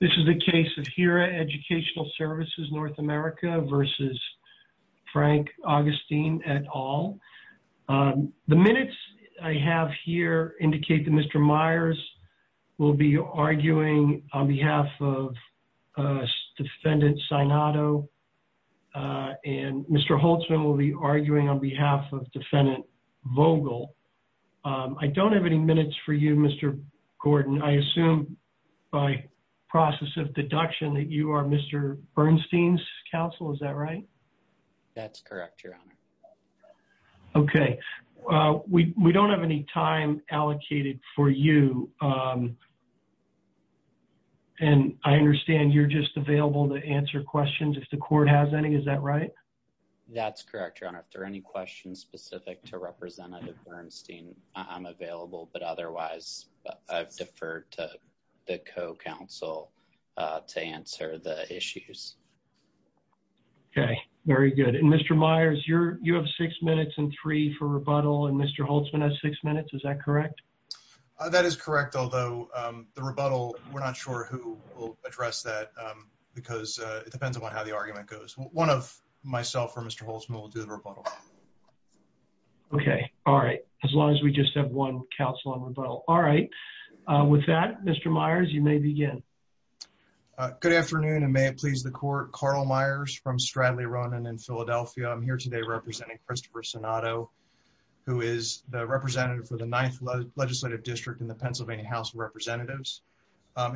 This is the case of HIRA Educational Services North America versus Frank Augustine et al. The minutes I have here indicate that Mr. Myers will be arguing on behalf of defendant Sinato and Mr. Holtzman will be arguing on behalf of defendant Vogel. I don't have any minutes for you Mr. Gordon. I assume by process of deduction that you are Mr. Bernstein's counsel. Is that right? That's correct your honor. Okay. We don't have any time allocated for you and I understand you're just available to answer questions if the court has any. Is that right? That's correct your honor. If there are any questions specific to representative Bernstein I'm available but otherwise I've deferred to the co-counsel to answer the issues. Okay. Very good. And Mr. Myers you have six minutes and three for rebuttal and Mr. Holtzman has six minutes. Is that correct? That is correct although the rebuttal we're not sure who will address that because it depends upon how the argument goes. One of myself or Mr. Holtzman will do the rebuttal. Okay. All right. As long as we just have one counsel on rebuttal. All right. With that Mr. Myers you may begin. Good afternoon and may it please the court. Carl Myers from Stradley Ronan in Philadelphia. I'm here today representing Christopher Sinato who is the representative for the ninth legislative district in the Pennsylvania House of Representatives.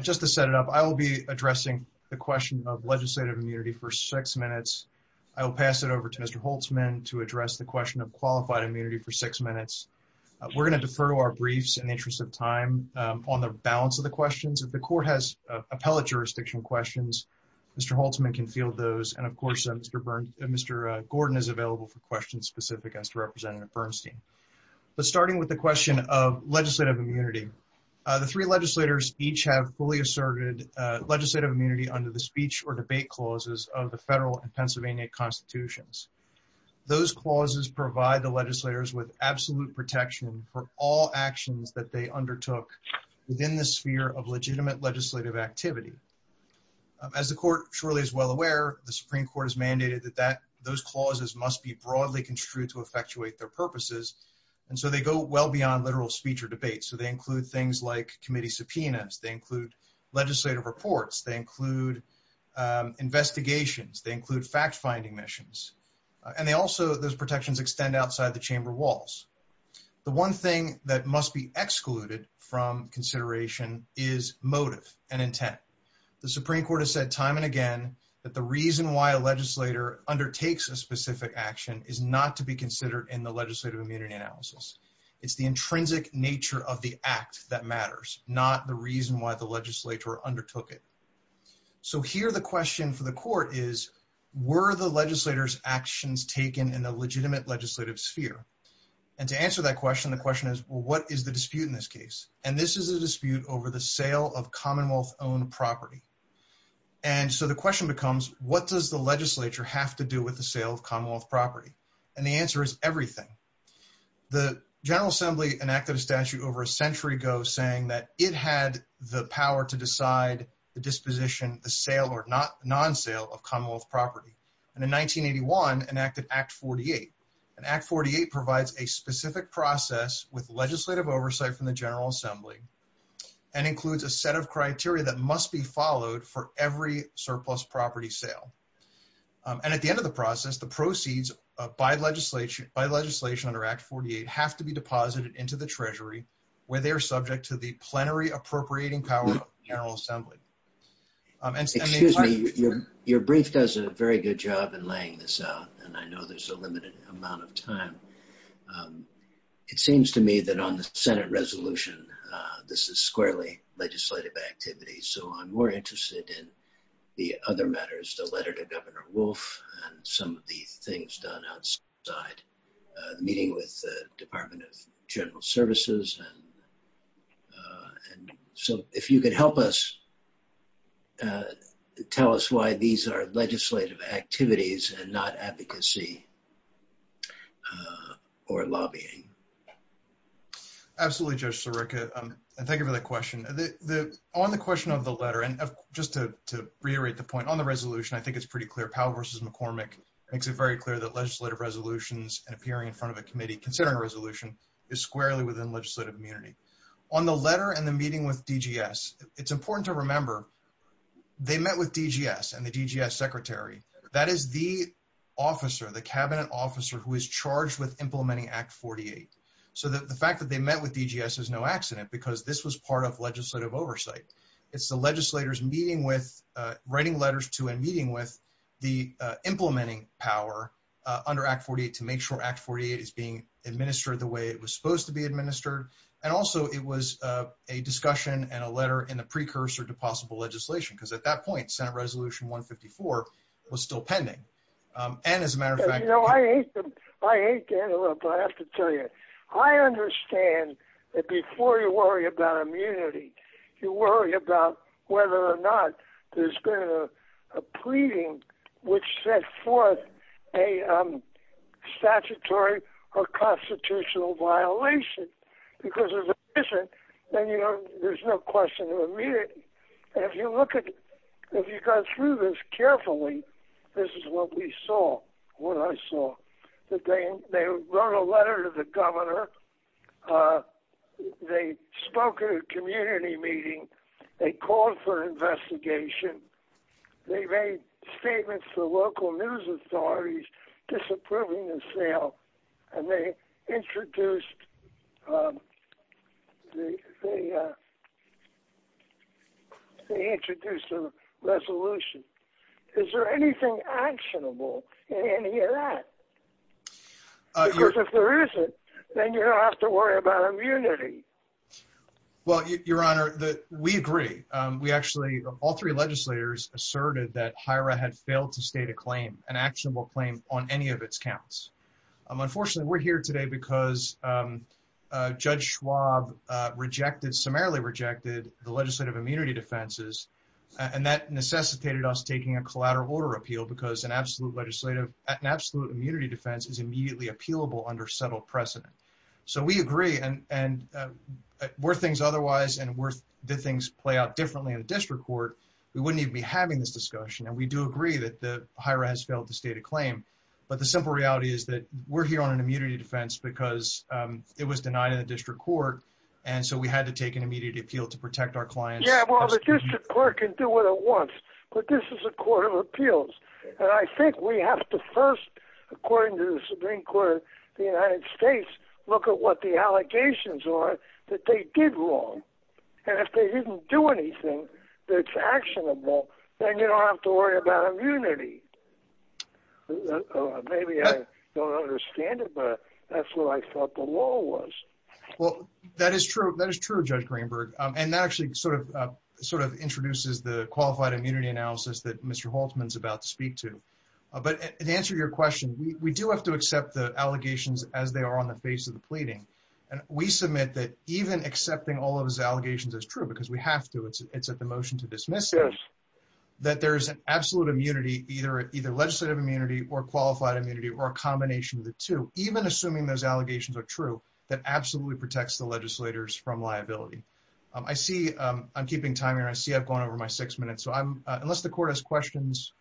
Just to set it up I will be addressing the question of legislative immunity for six minutes. I will pass it over to Mr. Holtzman to address the question of qualified immunity for six minutes. We're going to defer to our briefs in the interest of time on the balance of the questions. If the court has appellate jurisdiction questions Mr. Holtzman can field those and of course Mr. Bern Mr. Gordon is available for questions specific as to Representative Bernstein. But starting with the question of legislative immunity the three legislators each have fully asserted legislative under the speech or debate clauses of the federal and Pennsylvania constitutions. Those clauses provide the legislators with absolute protection for all actions that they undertook within the sphere of legitimate legislative activity. As the court surely is well aware the Supreme Court has mandated that that those clauses must be broadly construed to effectuate their purposes and so they go well beyond literal speech or debate. So they include things like investigations, they include fact-finding missions and they also those protections extend outside the chamber walls. The one thing that must be excluded from consideration is motive and intent. The Supreme Court has said time and again that the reason why a legislator undertakes a specific action is not to be considered in the legislative immunity analysis. It's the intrinsic nature of the act that matters not the reason why the legislature undertook it. So here the question for the court is were the legislators actions taken in a legitimate legislative sphere? And to answer that question the question is what is the dispute in this case? And this is a dispute over the sale of commonwealth-owned property. And so the question becomes what does the legislature have to do with the sale of commonwealth property? And the answer is everything. The General Assembly enacted a statute over a century ago saying that it had the power to decide the disposition the sale or non-sale of commonwealth property and in 1981 enacted Act 48. And Act 48 provides a specific process with legislative oversight from the General Assembly and includes a set of criteria that must be followed for every surplus property sale. And at the end of the process the proceeds by legislation under Act 48 have to be deposited into the treasury where they are subject to the plenary appropriating power of General Assembly. Excuse me your brief does a very good job in laying this out and I know there's a limited amount of time. It seems to me that on the Senate resolution this is squarely legislative activity so I'm more interested in the other matters the side the meeting with the Department of General Services and so if you could help us tell us why these are legislative activities and not advocacy or lobbying. Absolutely Judge Sirica and thank you for that question. On the question of the letter and just to reiterate the point on the resolution I think it's pretty clear Powell versus McCormick makes it very clear that legislative resolutions and appearing in front of a committee considering a resolution is squarely within legislative immunity. On the letter and the meeting with DGS it's important to remember they met with DGS and the DGS secretary that is the officer the cabinet officer who is charged with implementing Act 48. So the fact that they met with DGS is no accident because this was part of legislative oversight. It's the legislators meeting with writing letters to and meeting with the implementing power under Act 48 to make sure Act 48 is being administered the way it was supposed to be administered and also it was a discussion and a letter in the precursor to possible legislation because at that point Senate Resolution 154 was still pending and as a matter of fact you know I hate to I hate to interrupt but I have to tell you I understand that before you worry about immunity you worry about whether or not there's been a pleading which set forth a statutory or constitutional violation because if it isn't then you know there's no question of immunity and if you look at if you go through this carefully this is what we saw what I saw that they they wrote a letter to the governor uh they spoke at a community meeting they called for investigation they made statements to local news authorities disapproving the sale and they introduced um they uh they introduced a resolution is there anything actionable in any of that uh because if there isn't then you don't have to worry about immunity well your honor that we agree um we actually all three legislators asserted that HIRA had failed to state a claim an actionable claim on any of its counts um unfortunately we're here today because um uh Judge Schwab uh rejected summarily rejected the legislative immunity defenses and that necessitated us taking a collateral order appeal because an absolute legislative an absolute immunity defense is immediately appealable under settled precedent so we agree and and were things otherwise and worth did things play out differently in the district court we wouldn't even be having this discussion and we do agree that the HIRA has failed to state a claim but the simple reality is that we're here on an immunity defense because um it was denied in the district court and so we had to take an immediate appeal to protect our clients yeah well the district court can do what it wants but this is a court of appeals and I think we have to first according to the Supreme Court of the United States look at what the allegations are that they did wrong and if they didn't do anything that's actionable then you don't have to worry about immunity maybe I don't understand it but that's what I thought the law was well that is true that is true Judge Greenberg um and that actually sort of uh sort of introduces the qualified immunity analysis that Mr. Haltman is about to speak to but in answer to your question we do have to accept the allegations as they are on the face of the pleading and we submit that even accepting all of his allegations is true because we have to it's at the motion to dismiss that there is an absolute immunity either either legislative immunity or qualified immunity or a combination of the two even assuming those allegations are true that absolutely protects the legislators from liability um I see um I'm keeping time here I see I've gone over my six minutes so I'm unless the court has questions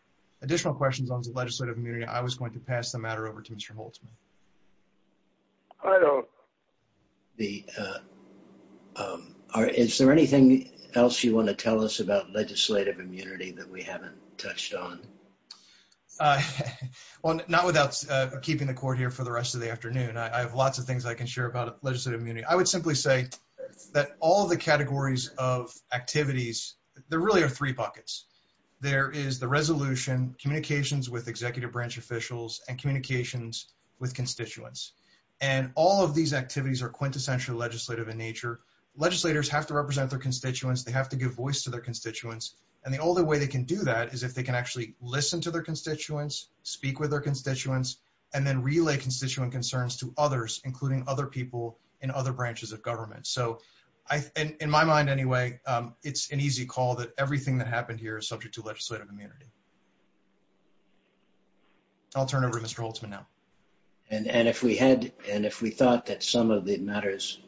additional questions on the legislative immunity I was going to pass the matter over to Mr. Haltman I don't the uh um are is there anything else you want to tell us about legislative immunity that we haven't touched on uh well not without uh keeping the court here for the rest of the afternoon I have lots of things I can share about legislative immunity I would simply say that all the categories of activities there really are three buckets there is the resolution communications with executive branch officials and communications with constituents and all of these activities are quintessential legislative in nature legislators have to represent their constituents they have to give voice to their constituents and the only way they can do that is if they can actually listen to their constituents speak with their constituents and then relay constituent concerns to others including other people in other branches of government so I in my mind anyway um it's an easy call that everything that happened here is subject to legislative immunity I'll turn over Mr. Haltman now and and if we had and if we thought that some of the matters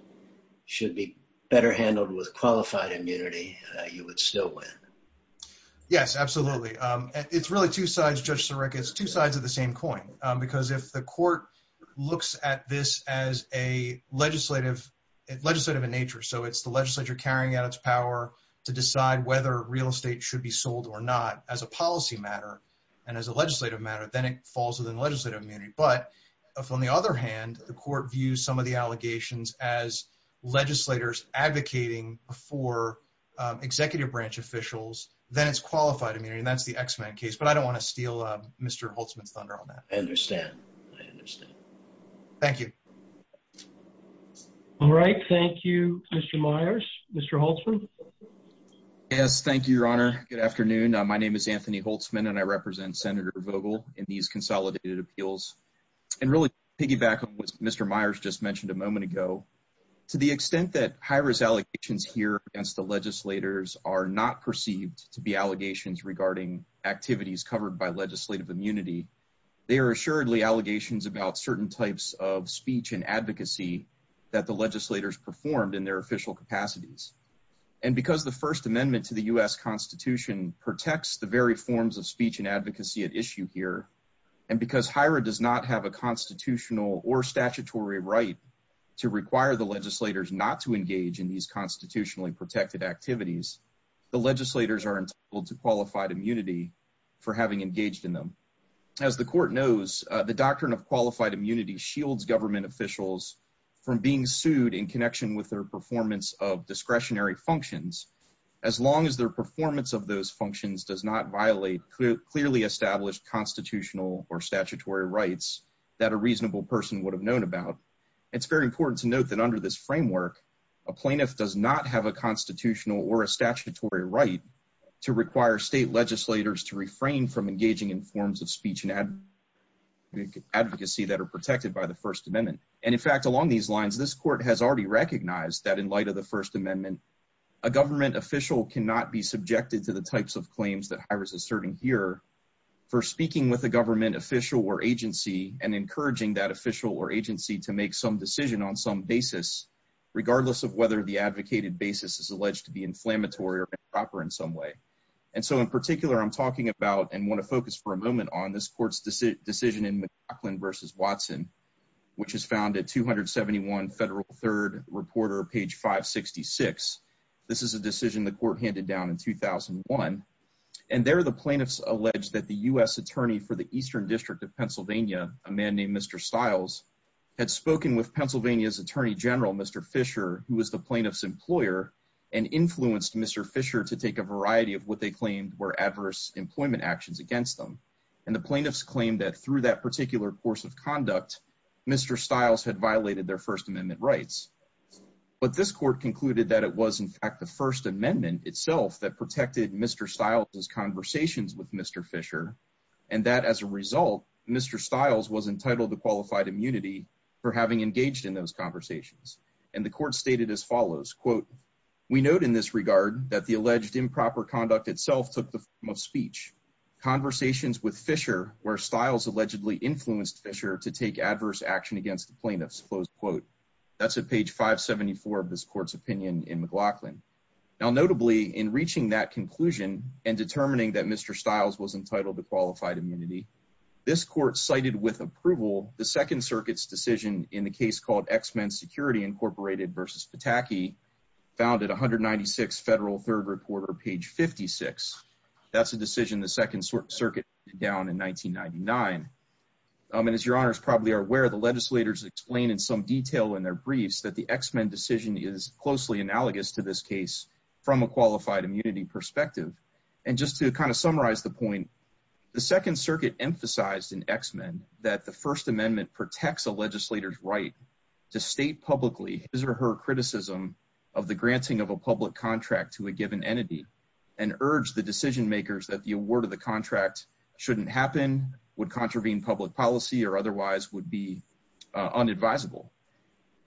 should be better handled with qualified immunity you would still win yes absolutely um it's really two sides Judge Cyric it's two sides of the same coin because if the court looks at this as a legislative legislative in nature so it's the legislature carrying out its power to decide whether real estate should be sold or not as a policy matter and as a legislative matter then it falls within legislative immunity but on the other hand the court views some of the allegations as legislators advocating for executive branch officials then it's qualified immunity and that's the x-men case but I don't want to steal uh Mr. Holtzman's thunder on that I understand I understand thank you all right thank you Mr. Myers Mr. Holtzman yes thank you your honor good afternoon my name is and really piggyback on what Mr. Myers just mentioned a moment ago to the extent that HIRA's allegations here against the legislators are not perceived to be allegations regarding activities covered by legislative immunity they are assuredly allegations about certain types of speech and advocacy that the legislators performed in their official capacities and because the first amendment to the U.S. Constitution protects the very forms of speech and advocacy at issue here and because HIRA does not have a constitutional or statutory right to require the legislators not to engage in these constitutionally protected activities the legislators are entitled to qualified immunity for having engaged in them as the court knows the doctrine of qualified immunity shields government officials from being sued in connection with their performance of discretionary functions as long as their performance of those functions does not clearly establish constitutional or statutory rights that a reasonable person would have known about it's very important to note that under this framework a plaintiff does not have a constitutional or a statutory right to require state legislators to refrain from engaging in forms of speech and advocacy that are protected by the first amendment and in fact along these lines this court has already recognized that in light of the first amendment a government official cannot be asserted here for speaking with a government official or agency and encouraging that official or agency to make some decision on some basis regardless of whether the advocated basis is alleged to be inflammatory or improper in some way and so in particular i'm talking about and want to focus for a moment on this court's decision in mccoughlin versus watson which is found at 271 federal third reporter page 566 this is a decision the court handed down in 2001 and there the plaintiffs alleged that the u.s attorney for the eastern district of pennsylvania a man named mr styles had spoken with pennsylvania's attorney general mr fisher who was the plaintiff's employer and influenced mr fisher to take a variety of what they claimed were adverse employment actions against them and the plaintiffs claimed that through that particular course of conduct mr styles had violated their first amendment rights but this court concluded that it was in the first amendment itself that protected mr styles's conversations with mr fisher and that as a result mr styles was entitled to qualified immunity for having engaged in those conversations and the court stated as follows quote we note in this regard that the alleged improper conduct itself took the form of speech conversations with fisher where styles allegedly influenced fisher to take adverse action against the plaintiffs close quote that's at page 574 of this court's opinion in mclaughlin now notably in reaching that conclusion and determining that mr styles was entitled to qualified immunity this court cited with approval the second circuit's decision in the case called x-men security incorporated versus pataki found at 196 federal third reporter page 56 that's a decision the second circuit down in 1999 and as your honors probably are aware the legislators explain in some detail in their briefs that the x-men decision is closely analogous to this case from a qualified immunity perspective and just to kind of summarize the point the second circuit emphasized in x-men that the first amendment protects a legislator's right to state publicly his or her criticism of the granting of a public contract to a given entity and urge the decision makers that the award of the contract shouldn't happen would contravene public policy or otherwise would be unadvisable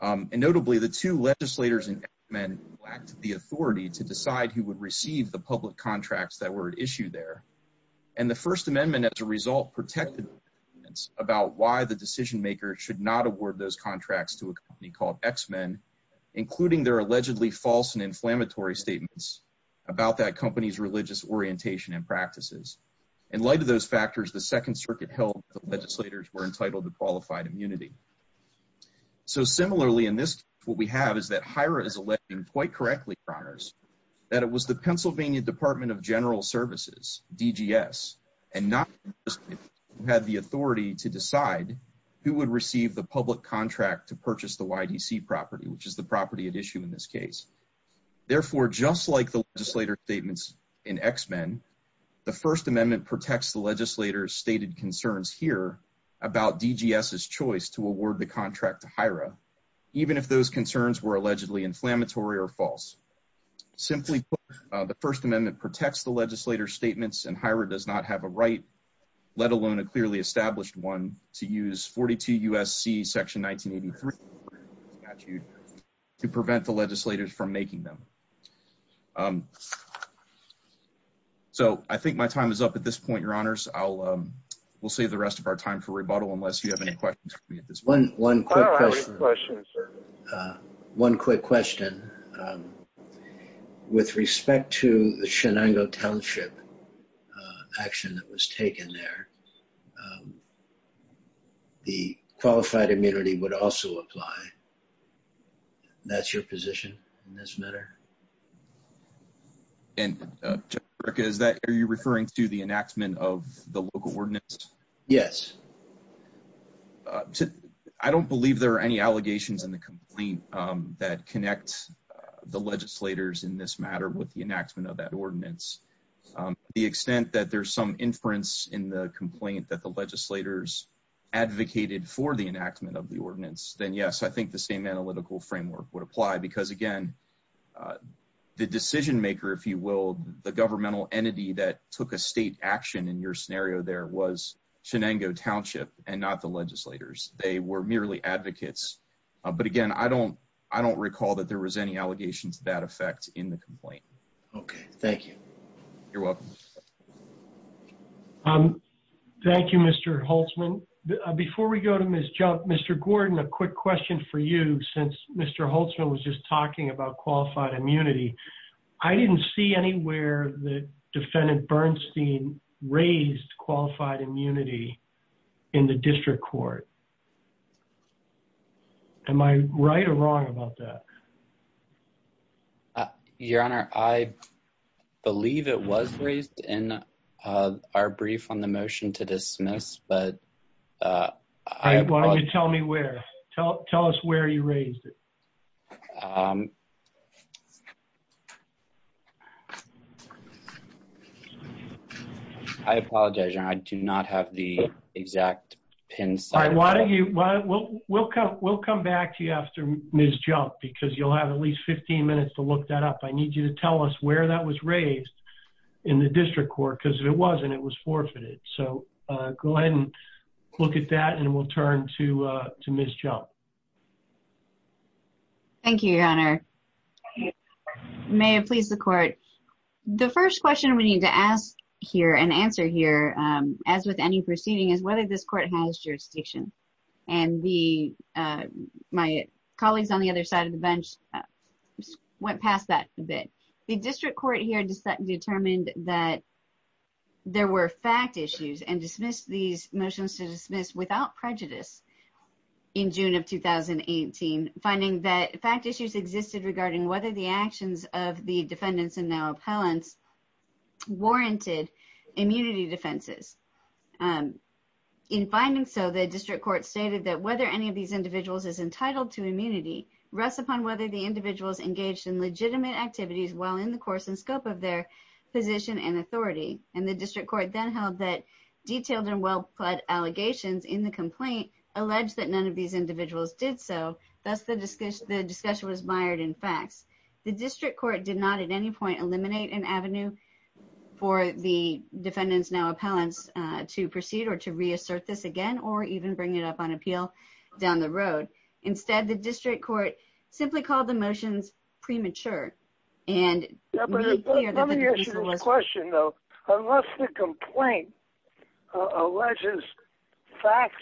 and notably the two legislators in x-men lacked the authority to decide who would receive the public contracts that were at issue there and the first amendment as a result protected about why the decision makers should not award those contracts to a company called x-men including their allegedly false and inflammatory statements about that company's religious orientation and practices in light of those factors the second circuit held the legislators were entitled to qualified immunity so similarly in this what we have is that hirer is electing quite correctly honors that it was the pennsylvania department of general services dgs and not just had the authority to decide who would receive the public contract to purchase the ydc property which is the property at issue in this case therefore just like the about dgs's choice to award the contract to hira even if those concerns were allegedly inflammatory or false simply the first amendment protects the legislator statements and hirer does not have a right let alone a clearly established one to use 42 usc section 1983 statute to prevent the legislators from making them um so i think my time is up at this point your honors i'll um save the rest of our time for rebuttal unless you have any questions for me at this one one quick question uh one quick question um with respect to the shinango township action that was taken there the qualified immunity would also apply that's your position in this matter and jessica is that are you referring to the enactment of the local ordinance yes uh i don't believe there are any allegations in the complaint um that connect the legislators in this matter with the enactment of that ordinance the extent that there's some inference in the complaint that the legislators advocated for the enactment of the ordinance then yes i the decision maker if you will the governmental entity that took a state action in your scenario there was shinango township and not the legislators they were merely advocates but again i don't i don't recall that there was any allegations of that effect in the complaint okay thank you you're welcome um thank you mr holtzman before we go to miss jump mr gordon a quick question for you since mr holtzman was just talking about qualified immunity i didn't see anywhere that defendant bernstein raised qualified immunity in the district court am i right or wrong about that your honor i believe it was raised in uh our brief on the motion to dismiss but uh why don't you tell me where tell tell us where you raised it um i apologize your honor i do not have the exact pin side why don't you why we'll we'll come we'll come back to you after ms jump because you'll have at least 15 minutes to look that up i need you to tell us where that was raised in the district court because it wasn't it was forfeited so uh go ahead and look at that and we'll turn to uh to miss jump thank you your honor may it please the court the first question we need to ask here and answer here um as with any proceeding is whether this court has jurisdiction and the uh my colleagues on the other side of the bench went past that a bit the district court here determined that there were fact issues and dismissed these motions to dismiss without prejudice in june of 2018 finding that fact issues existed regarding whether the actions of the defendants and now appellants warranted immunity defenses um in finding so the district court stated that whether any of these individuals is entitled to immunity rests upon whether the individuals engaged in legitimate activities while in the course and scope of their position and authority and the district court then held that detailed and well pledged allegations in the complaint alleged that none of these individuals did so thus the discussion the discussion was mired in facts the district court did not at any point eliminate an avenue for the defendants now appellants to proceed or to reassert this again or even bring it up on the road instead the district court simply called the motions premature and let me ask you a question though unless the complaint alleges facts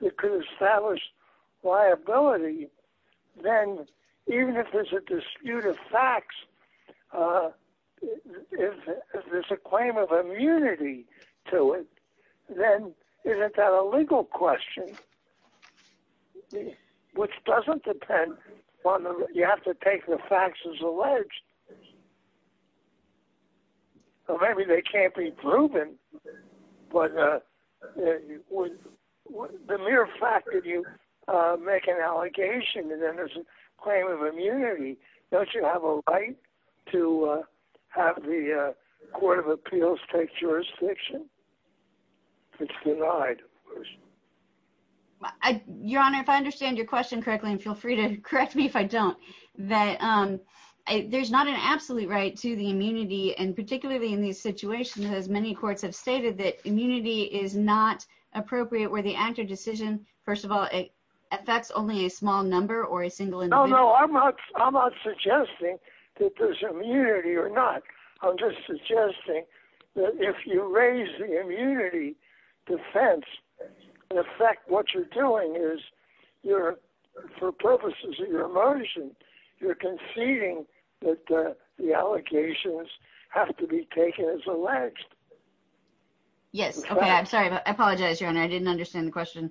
that could establish liability then even if there's a dispute of facts uh if there's a claim of immunity to it then is it that a legal question which doesn't depend on you have to take the facts as alleged so maybe they can't be proven but uh the mere fact that you uh make an allegation and then there's a claim of immunity don't you have a right to uh have the uh court of appeals take jurisdiction it's denied of course i your honor if i understand your question correctly and feel free to correct me if i don't that um there's not an absolute right to the immunity and particularly in these situations as many courts have stated that immunity is not appropriate where the actor decision first of all it affects only a small number or a single no no i'm not i'm not suggesting that there's immunity or not i'm just suggesting that if you raise the immunity defense in effect what you're doing is you're for purposes of your emotion you're conceding that the allegations have to be taken as alleged yes okay i'm sorry but i apologize your honor i didn't understand the question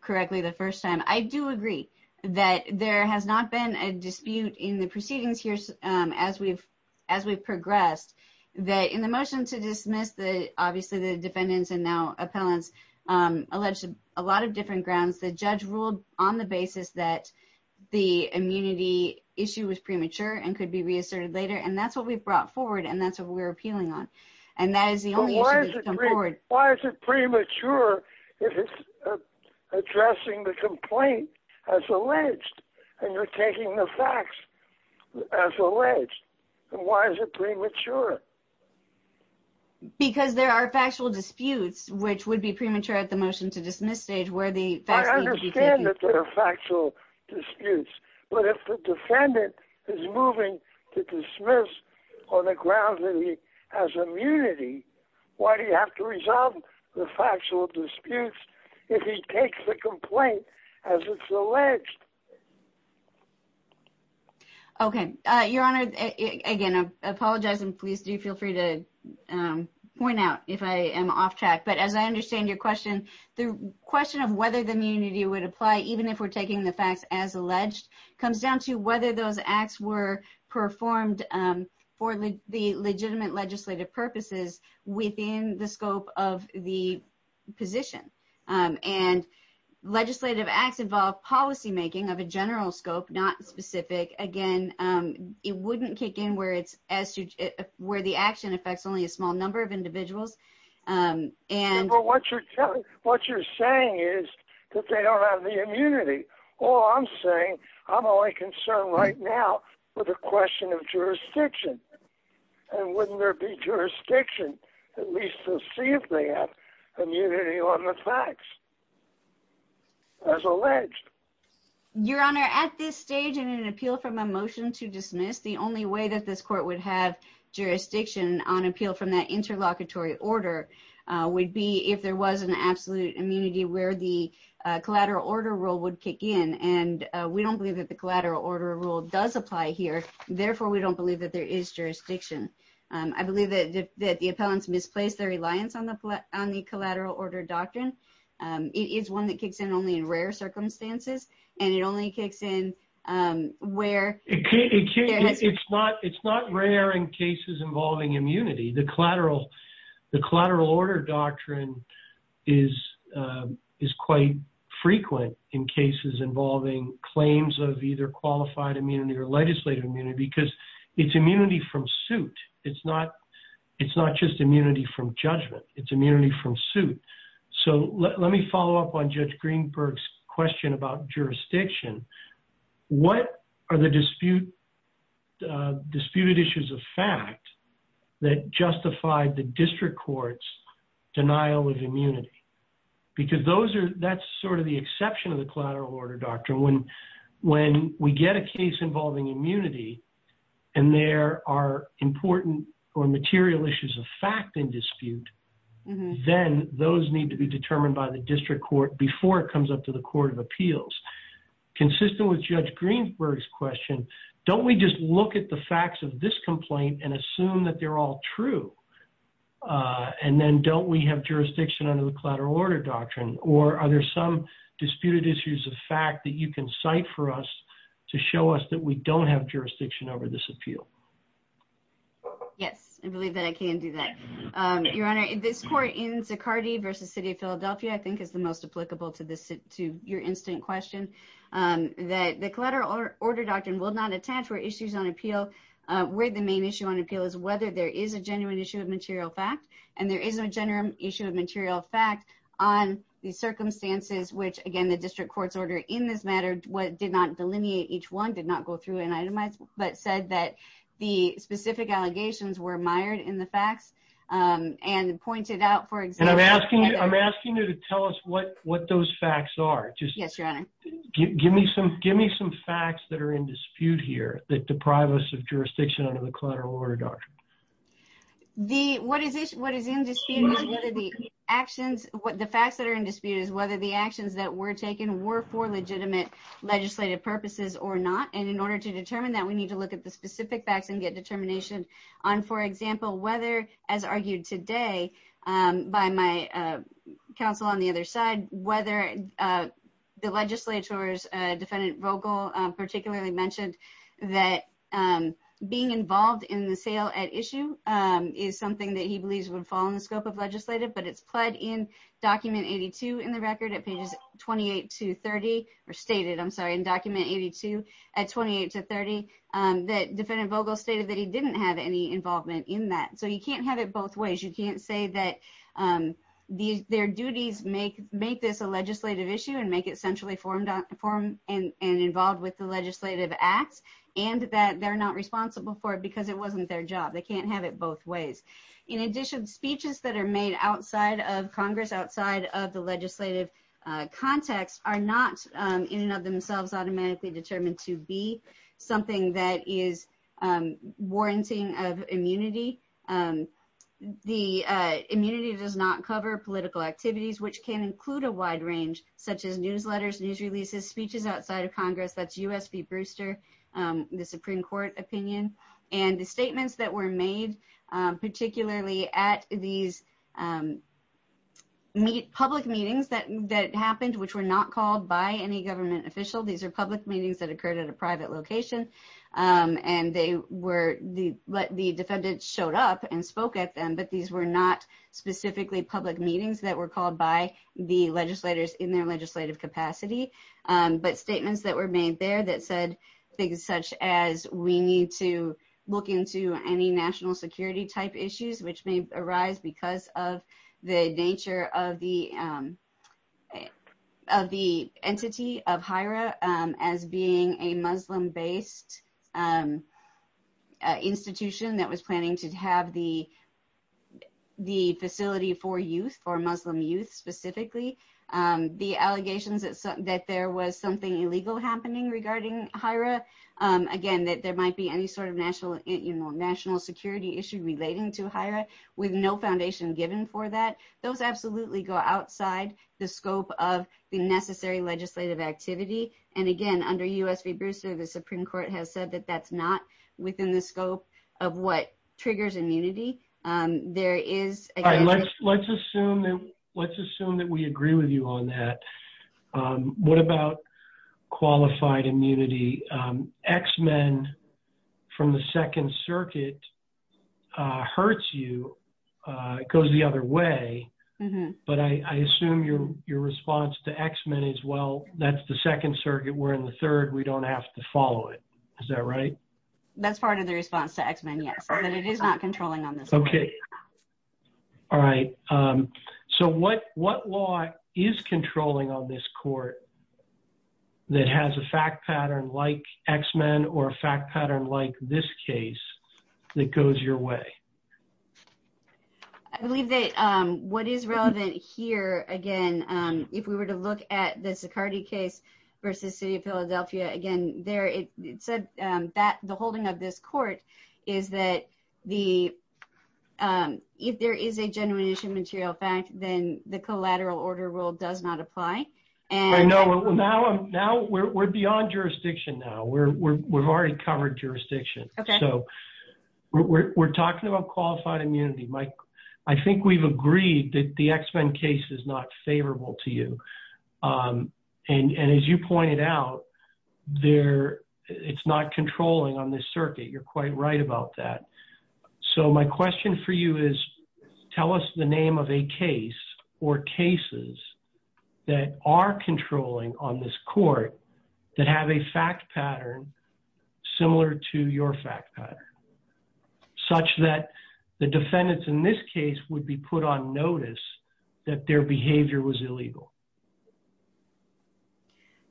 correctly the first time i do agree that there has not been a dispute in the proceedings here as we've as we've progressed that in the motion to dismiss the obviously the defendants and now appellants um alleged a lot of different grounds the judge ruled on the basis that the immunity issue was premature and could be reasserted later and that's what we've brought forward and that's what we're appealing on and that is the only issue why is it premature if it's addressing the complaint as alleged and you're taking the facts as alleged and why is it premature because there are factual disputes which would be premature at the motion to dismiss stage where the i understand that there are factual disputes but if the defendant is moving to dismiss on the ground that he has immunity why do you have to resolve the factual disputes if he takes the complaint as it's alleged okay uh your honor again i apologize and please do feel free to um point out if i am off track but as i understand your question the question of whether the immunity would apply even if we're taking the facts as alleged comes down to whether those acts were performed um for the legitimate purposes within the scope of the position um and legislative acts involve policy making of a general scope not specific again um it wouldn't kick in where it's as where the action affects only a small number of individuals um and but what you're telling what you're saying is that they don't have the immunity all i'm saying i'm only concerned right now with a question of jurisdiction at least to see if they have immunity on the facts as alleged your honor at this stage in an appeal from a motion to dismiss the only way that this court would have jurisdiction on appeal from that interlocutory order uh would be if there was an absolute immunity where the uh collateral order rule would kick in and we don't believe that the collateral order rule does apply here therefore we don't believe that there is jurisdiction um i believe that that the appellants misplaced their reliance on the on the collateral order doctrine um it is one that kicks in only in rare circumstances and it only kicks in um where it can't it can't it's not it's not rare in cases involving immunity the collateral the collateral order doctrine is um is quite frequent in cases involving claims of either qualified immunity or legislative immunity because it's immunity from suit it's not it's not just immunity from judgment it's immunity from suit so let me follow up on judge greenberg's question about jurisdiction what are the dispute uh disputed issues of fact that justified the district court's denial of immunity because those are that's sort of the exception of the collateral order doctrine when when we get a case involving immunity and there are important or material issues of fact in dispute then those need to be determined by the district court before it comes up to the court of appeals consistent with judge greenberg's question don't we just look at the facts of this complaint and assume that they're all true uh and then don't we have jurisdiction under the for us to show us that we don't have jurisdiction over this appeal yes i believe that i can do that um your honor this court in sicardy versus city of philadelphia i think is the most applicable to this to your instant question um that the collateral order doctrine will not attach where issues on appeal uh where the main issue on appeal is whether there is a genuine issue of material fact and there is a genuine issue of material fact on these circumstances which again in this matter what did not delineate each one did not go through and itemize but said that the specific allegations were mired in the facts um and pointed out for example i'm asking you i'm asking you to tell us what what those facts are just yes your honor give me some give me some facts that are in dispute here that deprive us of jurisdiction under the collateral order doctrine the what is this what is in dispute whether the actions what the facts that are in dispute is were for legitimate legislative purposes or not and in order to determine that we need to look at the specific facts and get determination on for example whether as argued today um by my uh counsel on the other side whether uh the legislature's uh defendant vogel particularly mentioned that um being involved in the sale at issue um is something that he believes would fall of legislative but it's pled in document 82 in the record at pages 28 to 30 or stated i'm sorry in document 82 at 28 to 30 um that defendant vogel stated that he didn't have any involvement in that so you can't have it both ways you can't say that um these their duties make make this a legislative issue and make it centrally formed form and and involved with the legislative acts and that they're not responsible for it because it wasn't their job they can't have it both ways in addition speeches that are made outside of congress outside of the legislative uh context are not um in and of themselves automatically determined to be something that is um warranting of immunity um the uh immunity does not cover political activities which can include a wide range such as newsletters news releases speeches outside of congress that's usb booster um the at these um meet public meetings that that happened which were not called by any government official these are public meetings that occurred at a private location um and they were the the defendant showed up and spoke at them but these were not specifically public meetings that were called by the legislators in their legislative capacity um but statements that were made there that said things such as we need to look into any national security type issues which may arise because of the nature of the um of the entity of hira um as being a muslim-based um uh institution that was planning to have the the facility for youth for muslim youth specifically um the hira um again that there might be any sort of national you know national security issue relating to hira with no foundation given for that those absolutely go outside the scope of the necessary legislative activity and again under usb booster the supreme court has said that that's not within the scope of what triggers immunity um there is all right let's let's assume that let's x-men from the second circuit uh hurts you uh it goes the other way but i i assume your your response to x-men is well that's the second circuit we're in the third we don't have to follow it is that right that's part of the response to x-men yes and it is not controlling okay all right um so what what law is controlling on this court that has a fact pattern like x-men or a fact pattern like this case that goes your way i believe that um what is relevant here again um if we were to look at the saccardi case versus city of philadelphia again there it said um that the holding of this court is that the um if there is a genuine issue material fact then the collateral order rule does not apply and i know now i'm now we're beyond jurisdiction now we're we've already covered jurisdiction okay so we're talking about qualified immunity mike i think we've agreed that the x-men case is not favorable to you um and and as you pointed out there it's not controlling on this circuit you're so my question for you is tell us the name of a case or cases that are controlling on this court that have a fact pattern similar to your fact pattern such that the defendants in this case would be put on notice that their behavior was illegal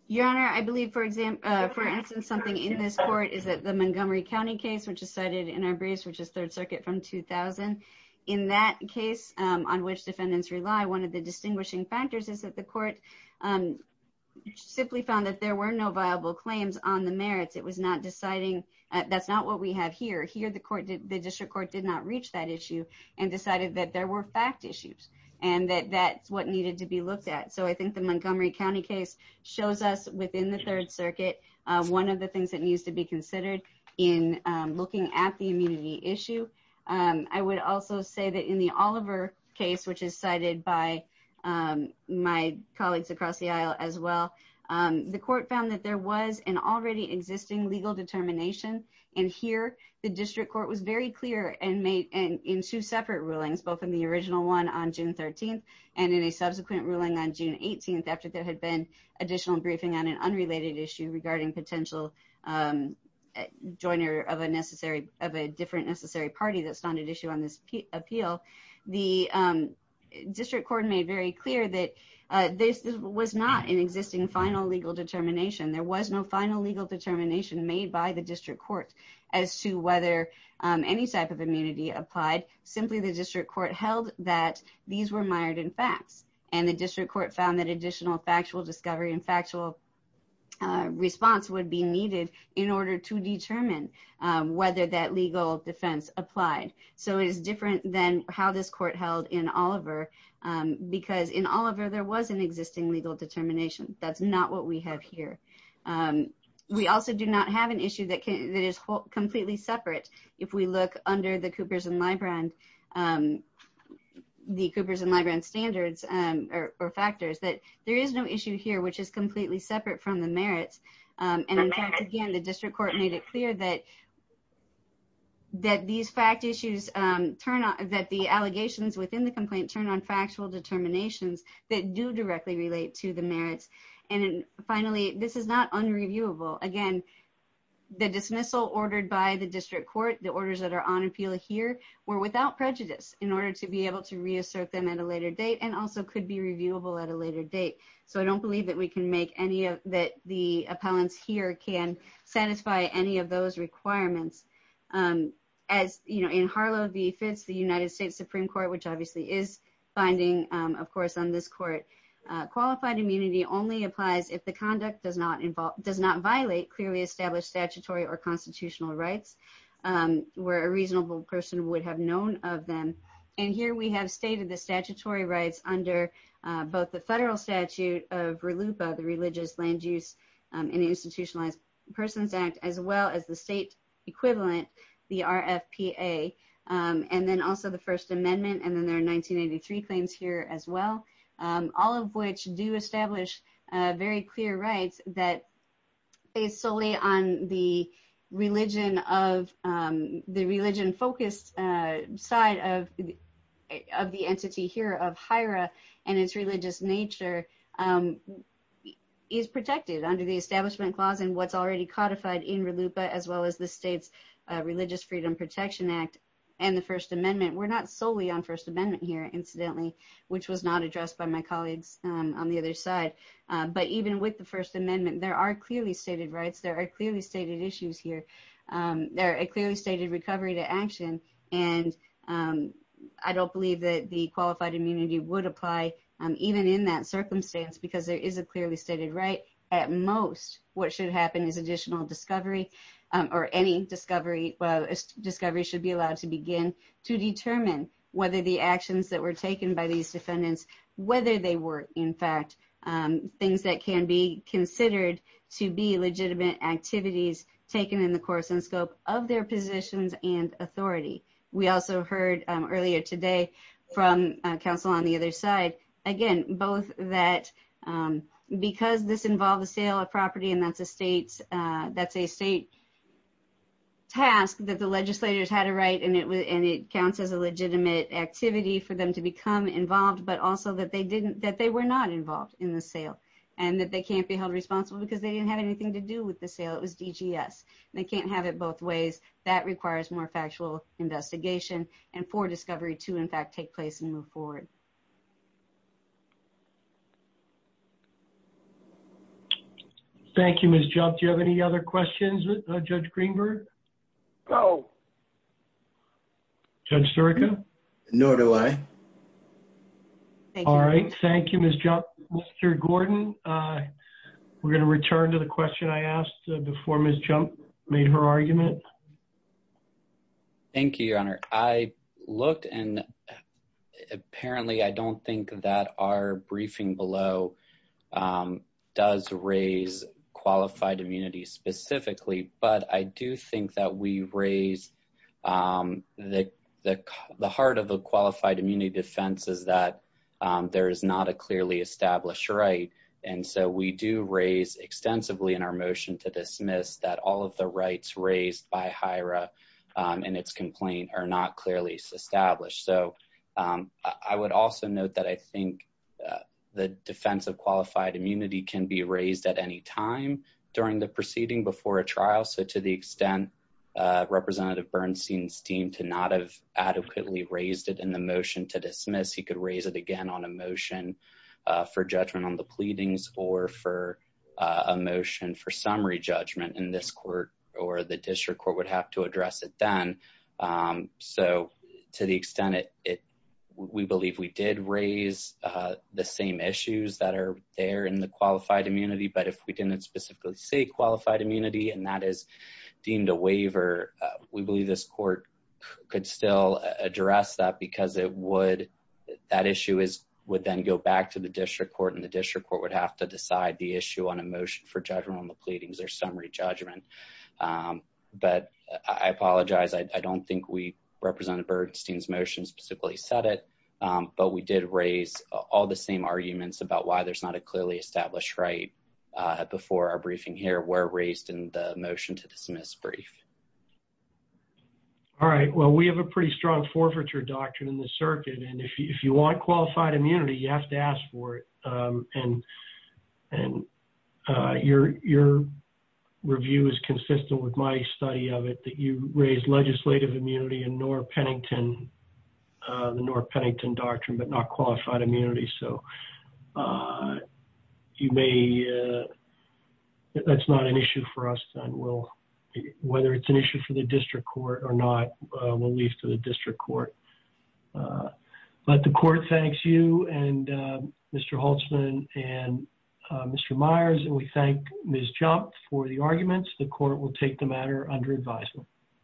your honor i believe for example for instance something in this court is that the montgomery county case which is cited in our briefs which is third circuit from 2000 in that case on which defendants rely one of the distinguishing factors is that the court um simply found that there were no viable claims on the merits it was not deciding that's not what we have here here the court did the district court did not reach that issue and decided that there were fact issues and that that's what needed to be looked at so i think the montgomery county case shows us within the third circuit one of the things that needs to be considered in looking at the immunity issue i would also say that in the oliver case which is cited by my colleagues across the aisle as well the court found that there was an already existing legal determination and here the district court was very clear and made and in two separate rulings both in the original one on june 13th and in a subsequent ruling on june 18th after there had been additional briefing on an unrelated issue regarding potential joiner of a necessary of a different necessary party that's not an issue on this appeal the district court made very clear that this was not an existing final legal determination there was no final legal determination made by the district court as to whether any type of immunity applied simply the district court held that these were mired in facts and the district court found that additional factual discovery and factual response would be needed in order to determine whether that legal defense applied so it is different than how this court held in oliver because in oliver there was an existing legal determination that's not what we have here we also do not have an issue that can that is completely separate if we look under the there is no issue here which is completely separate from the merits and in fact again the district court made it clear that that these fact issues turn out that the allegations within the complaint turn on factual determinations that do directly relate to the merits and finally this is not unreviewable again the dismissal ordered by the district court the orders that are on appeal here were without prejudice in order to be able to reassert them at a later date and also could be reviewable at a later date so i don't believe that we can make any of that the appellants here can satisfy any of those requirements um as you know in harlow v fits the united states supreme court which obviously is binding um of course on this court uh qualified immunity only applies if the conduct does not involve does not violate clearly established statutory or constitutional rights um where a reasonable person would have known of them and here we have stated the statutory rights under both the federal statute of relupa the religious land use and institutionalized persons act as well as the state equivalent the rfpa and then also the first amendment and then there are 1983 claims here as well all of which do establish very clear rights that based solely on the religion of um the religion focused uh side of of the entity here of hira and its religious nature um is protected under the establishment clause and what's already codified in relupa as well as the state's religious freedom protection act and the first amendment we're not solely on first amendment here incidentally which was not addressed by my colleagues um on the other side but even with the first amendment there are clearly stated rights there are clearly stated issues here um they're a clearly stated recovery to action and um i don't believe that the qualified immunity would apply um even in that circumstance because there is a clearly stated right at most what should happen is additional discovery um or any discovery well discovery should be allowed to begin to determine whether the actions that were taken by these defendants whether they were in things that can be considered to be legitimate activities taken in the course and scope of their positions and authority we also heard earlier today from council on the other side again both that um because this involved the sale of property and that's a state uh that's a state task that the legislators had a right and it was and it counts as a legitimate activity for them become involved but also that they didn't that they were not involved in the sale and that they can't be held responsible because they didn't have anything to do with the sale it was dgs they can't have it both ways that requires more factual investigation and for discovery to in fact take place and move forward thank you miss job do you have any other questions with judge greenberg go judge surica nor do i all right thank you miss jump mr gordon uh we're going to return to the question i asked before miss jump made her argument thank you your honor i looked and apparently i don't think that our briefing below um does raise qualified immunity specifically but i do think that we raise um the the heart of the qualified immunity defense is that there is not a clearly established right and so we do raise extensively in our motion to dismiss that all of the rights raised by hira and its complaint are not clearly established so i would also note that i think the defense of qualified immunity can be raised at any time during the proceeding before a trial so to the extent uh representative bernstein's team to not have adequately raised it in the motion to dismiss he could raise it again on a motion for judgment on the pleadings or for a motion for summary judgment in this court or the district court would have to address it then um so to the extent it it we believe we did raise uh the same issues that are there in the qualified immunity but if we didn't specifically say qualified immunity and that is deemed a waiver we believe this court could still address that because it would that issue is would then go back to the district court and the district court would have to decide the issue on a motion for judgment on the pleadings or summary judgment um but i apologize i don't think we represented bernstein's motion specifically said it um but we did raise all the same arguments about why there's not a clearly established right before our briefing here were raised in the motion to dismiss brief all right well we have a pretty strong forfeiture doctrine in the circuit and if you want qualified immunity you have to ask for it um and and uh your your review is consistent with my study of it that raised legislative immunity and nor pennington the nor pennington doctrine but not qualified immunity so uh you may uh that's not an issue for us then we'll whether it's an issue for the district court or not we'll leave to the district court but the court thanks you and mr holtzman and mr myers and we thank ms jump for the arguments the court will take the matter under advisement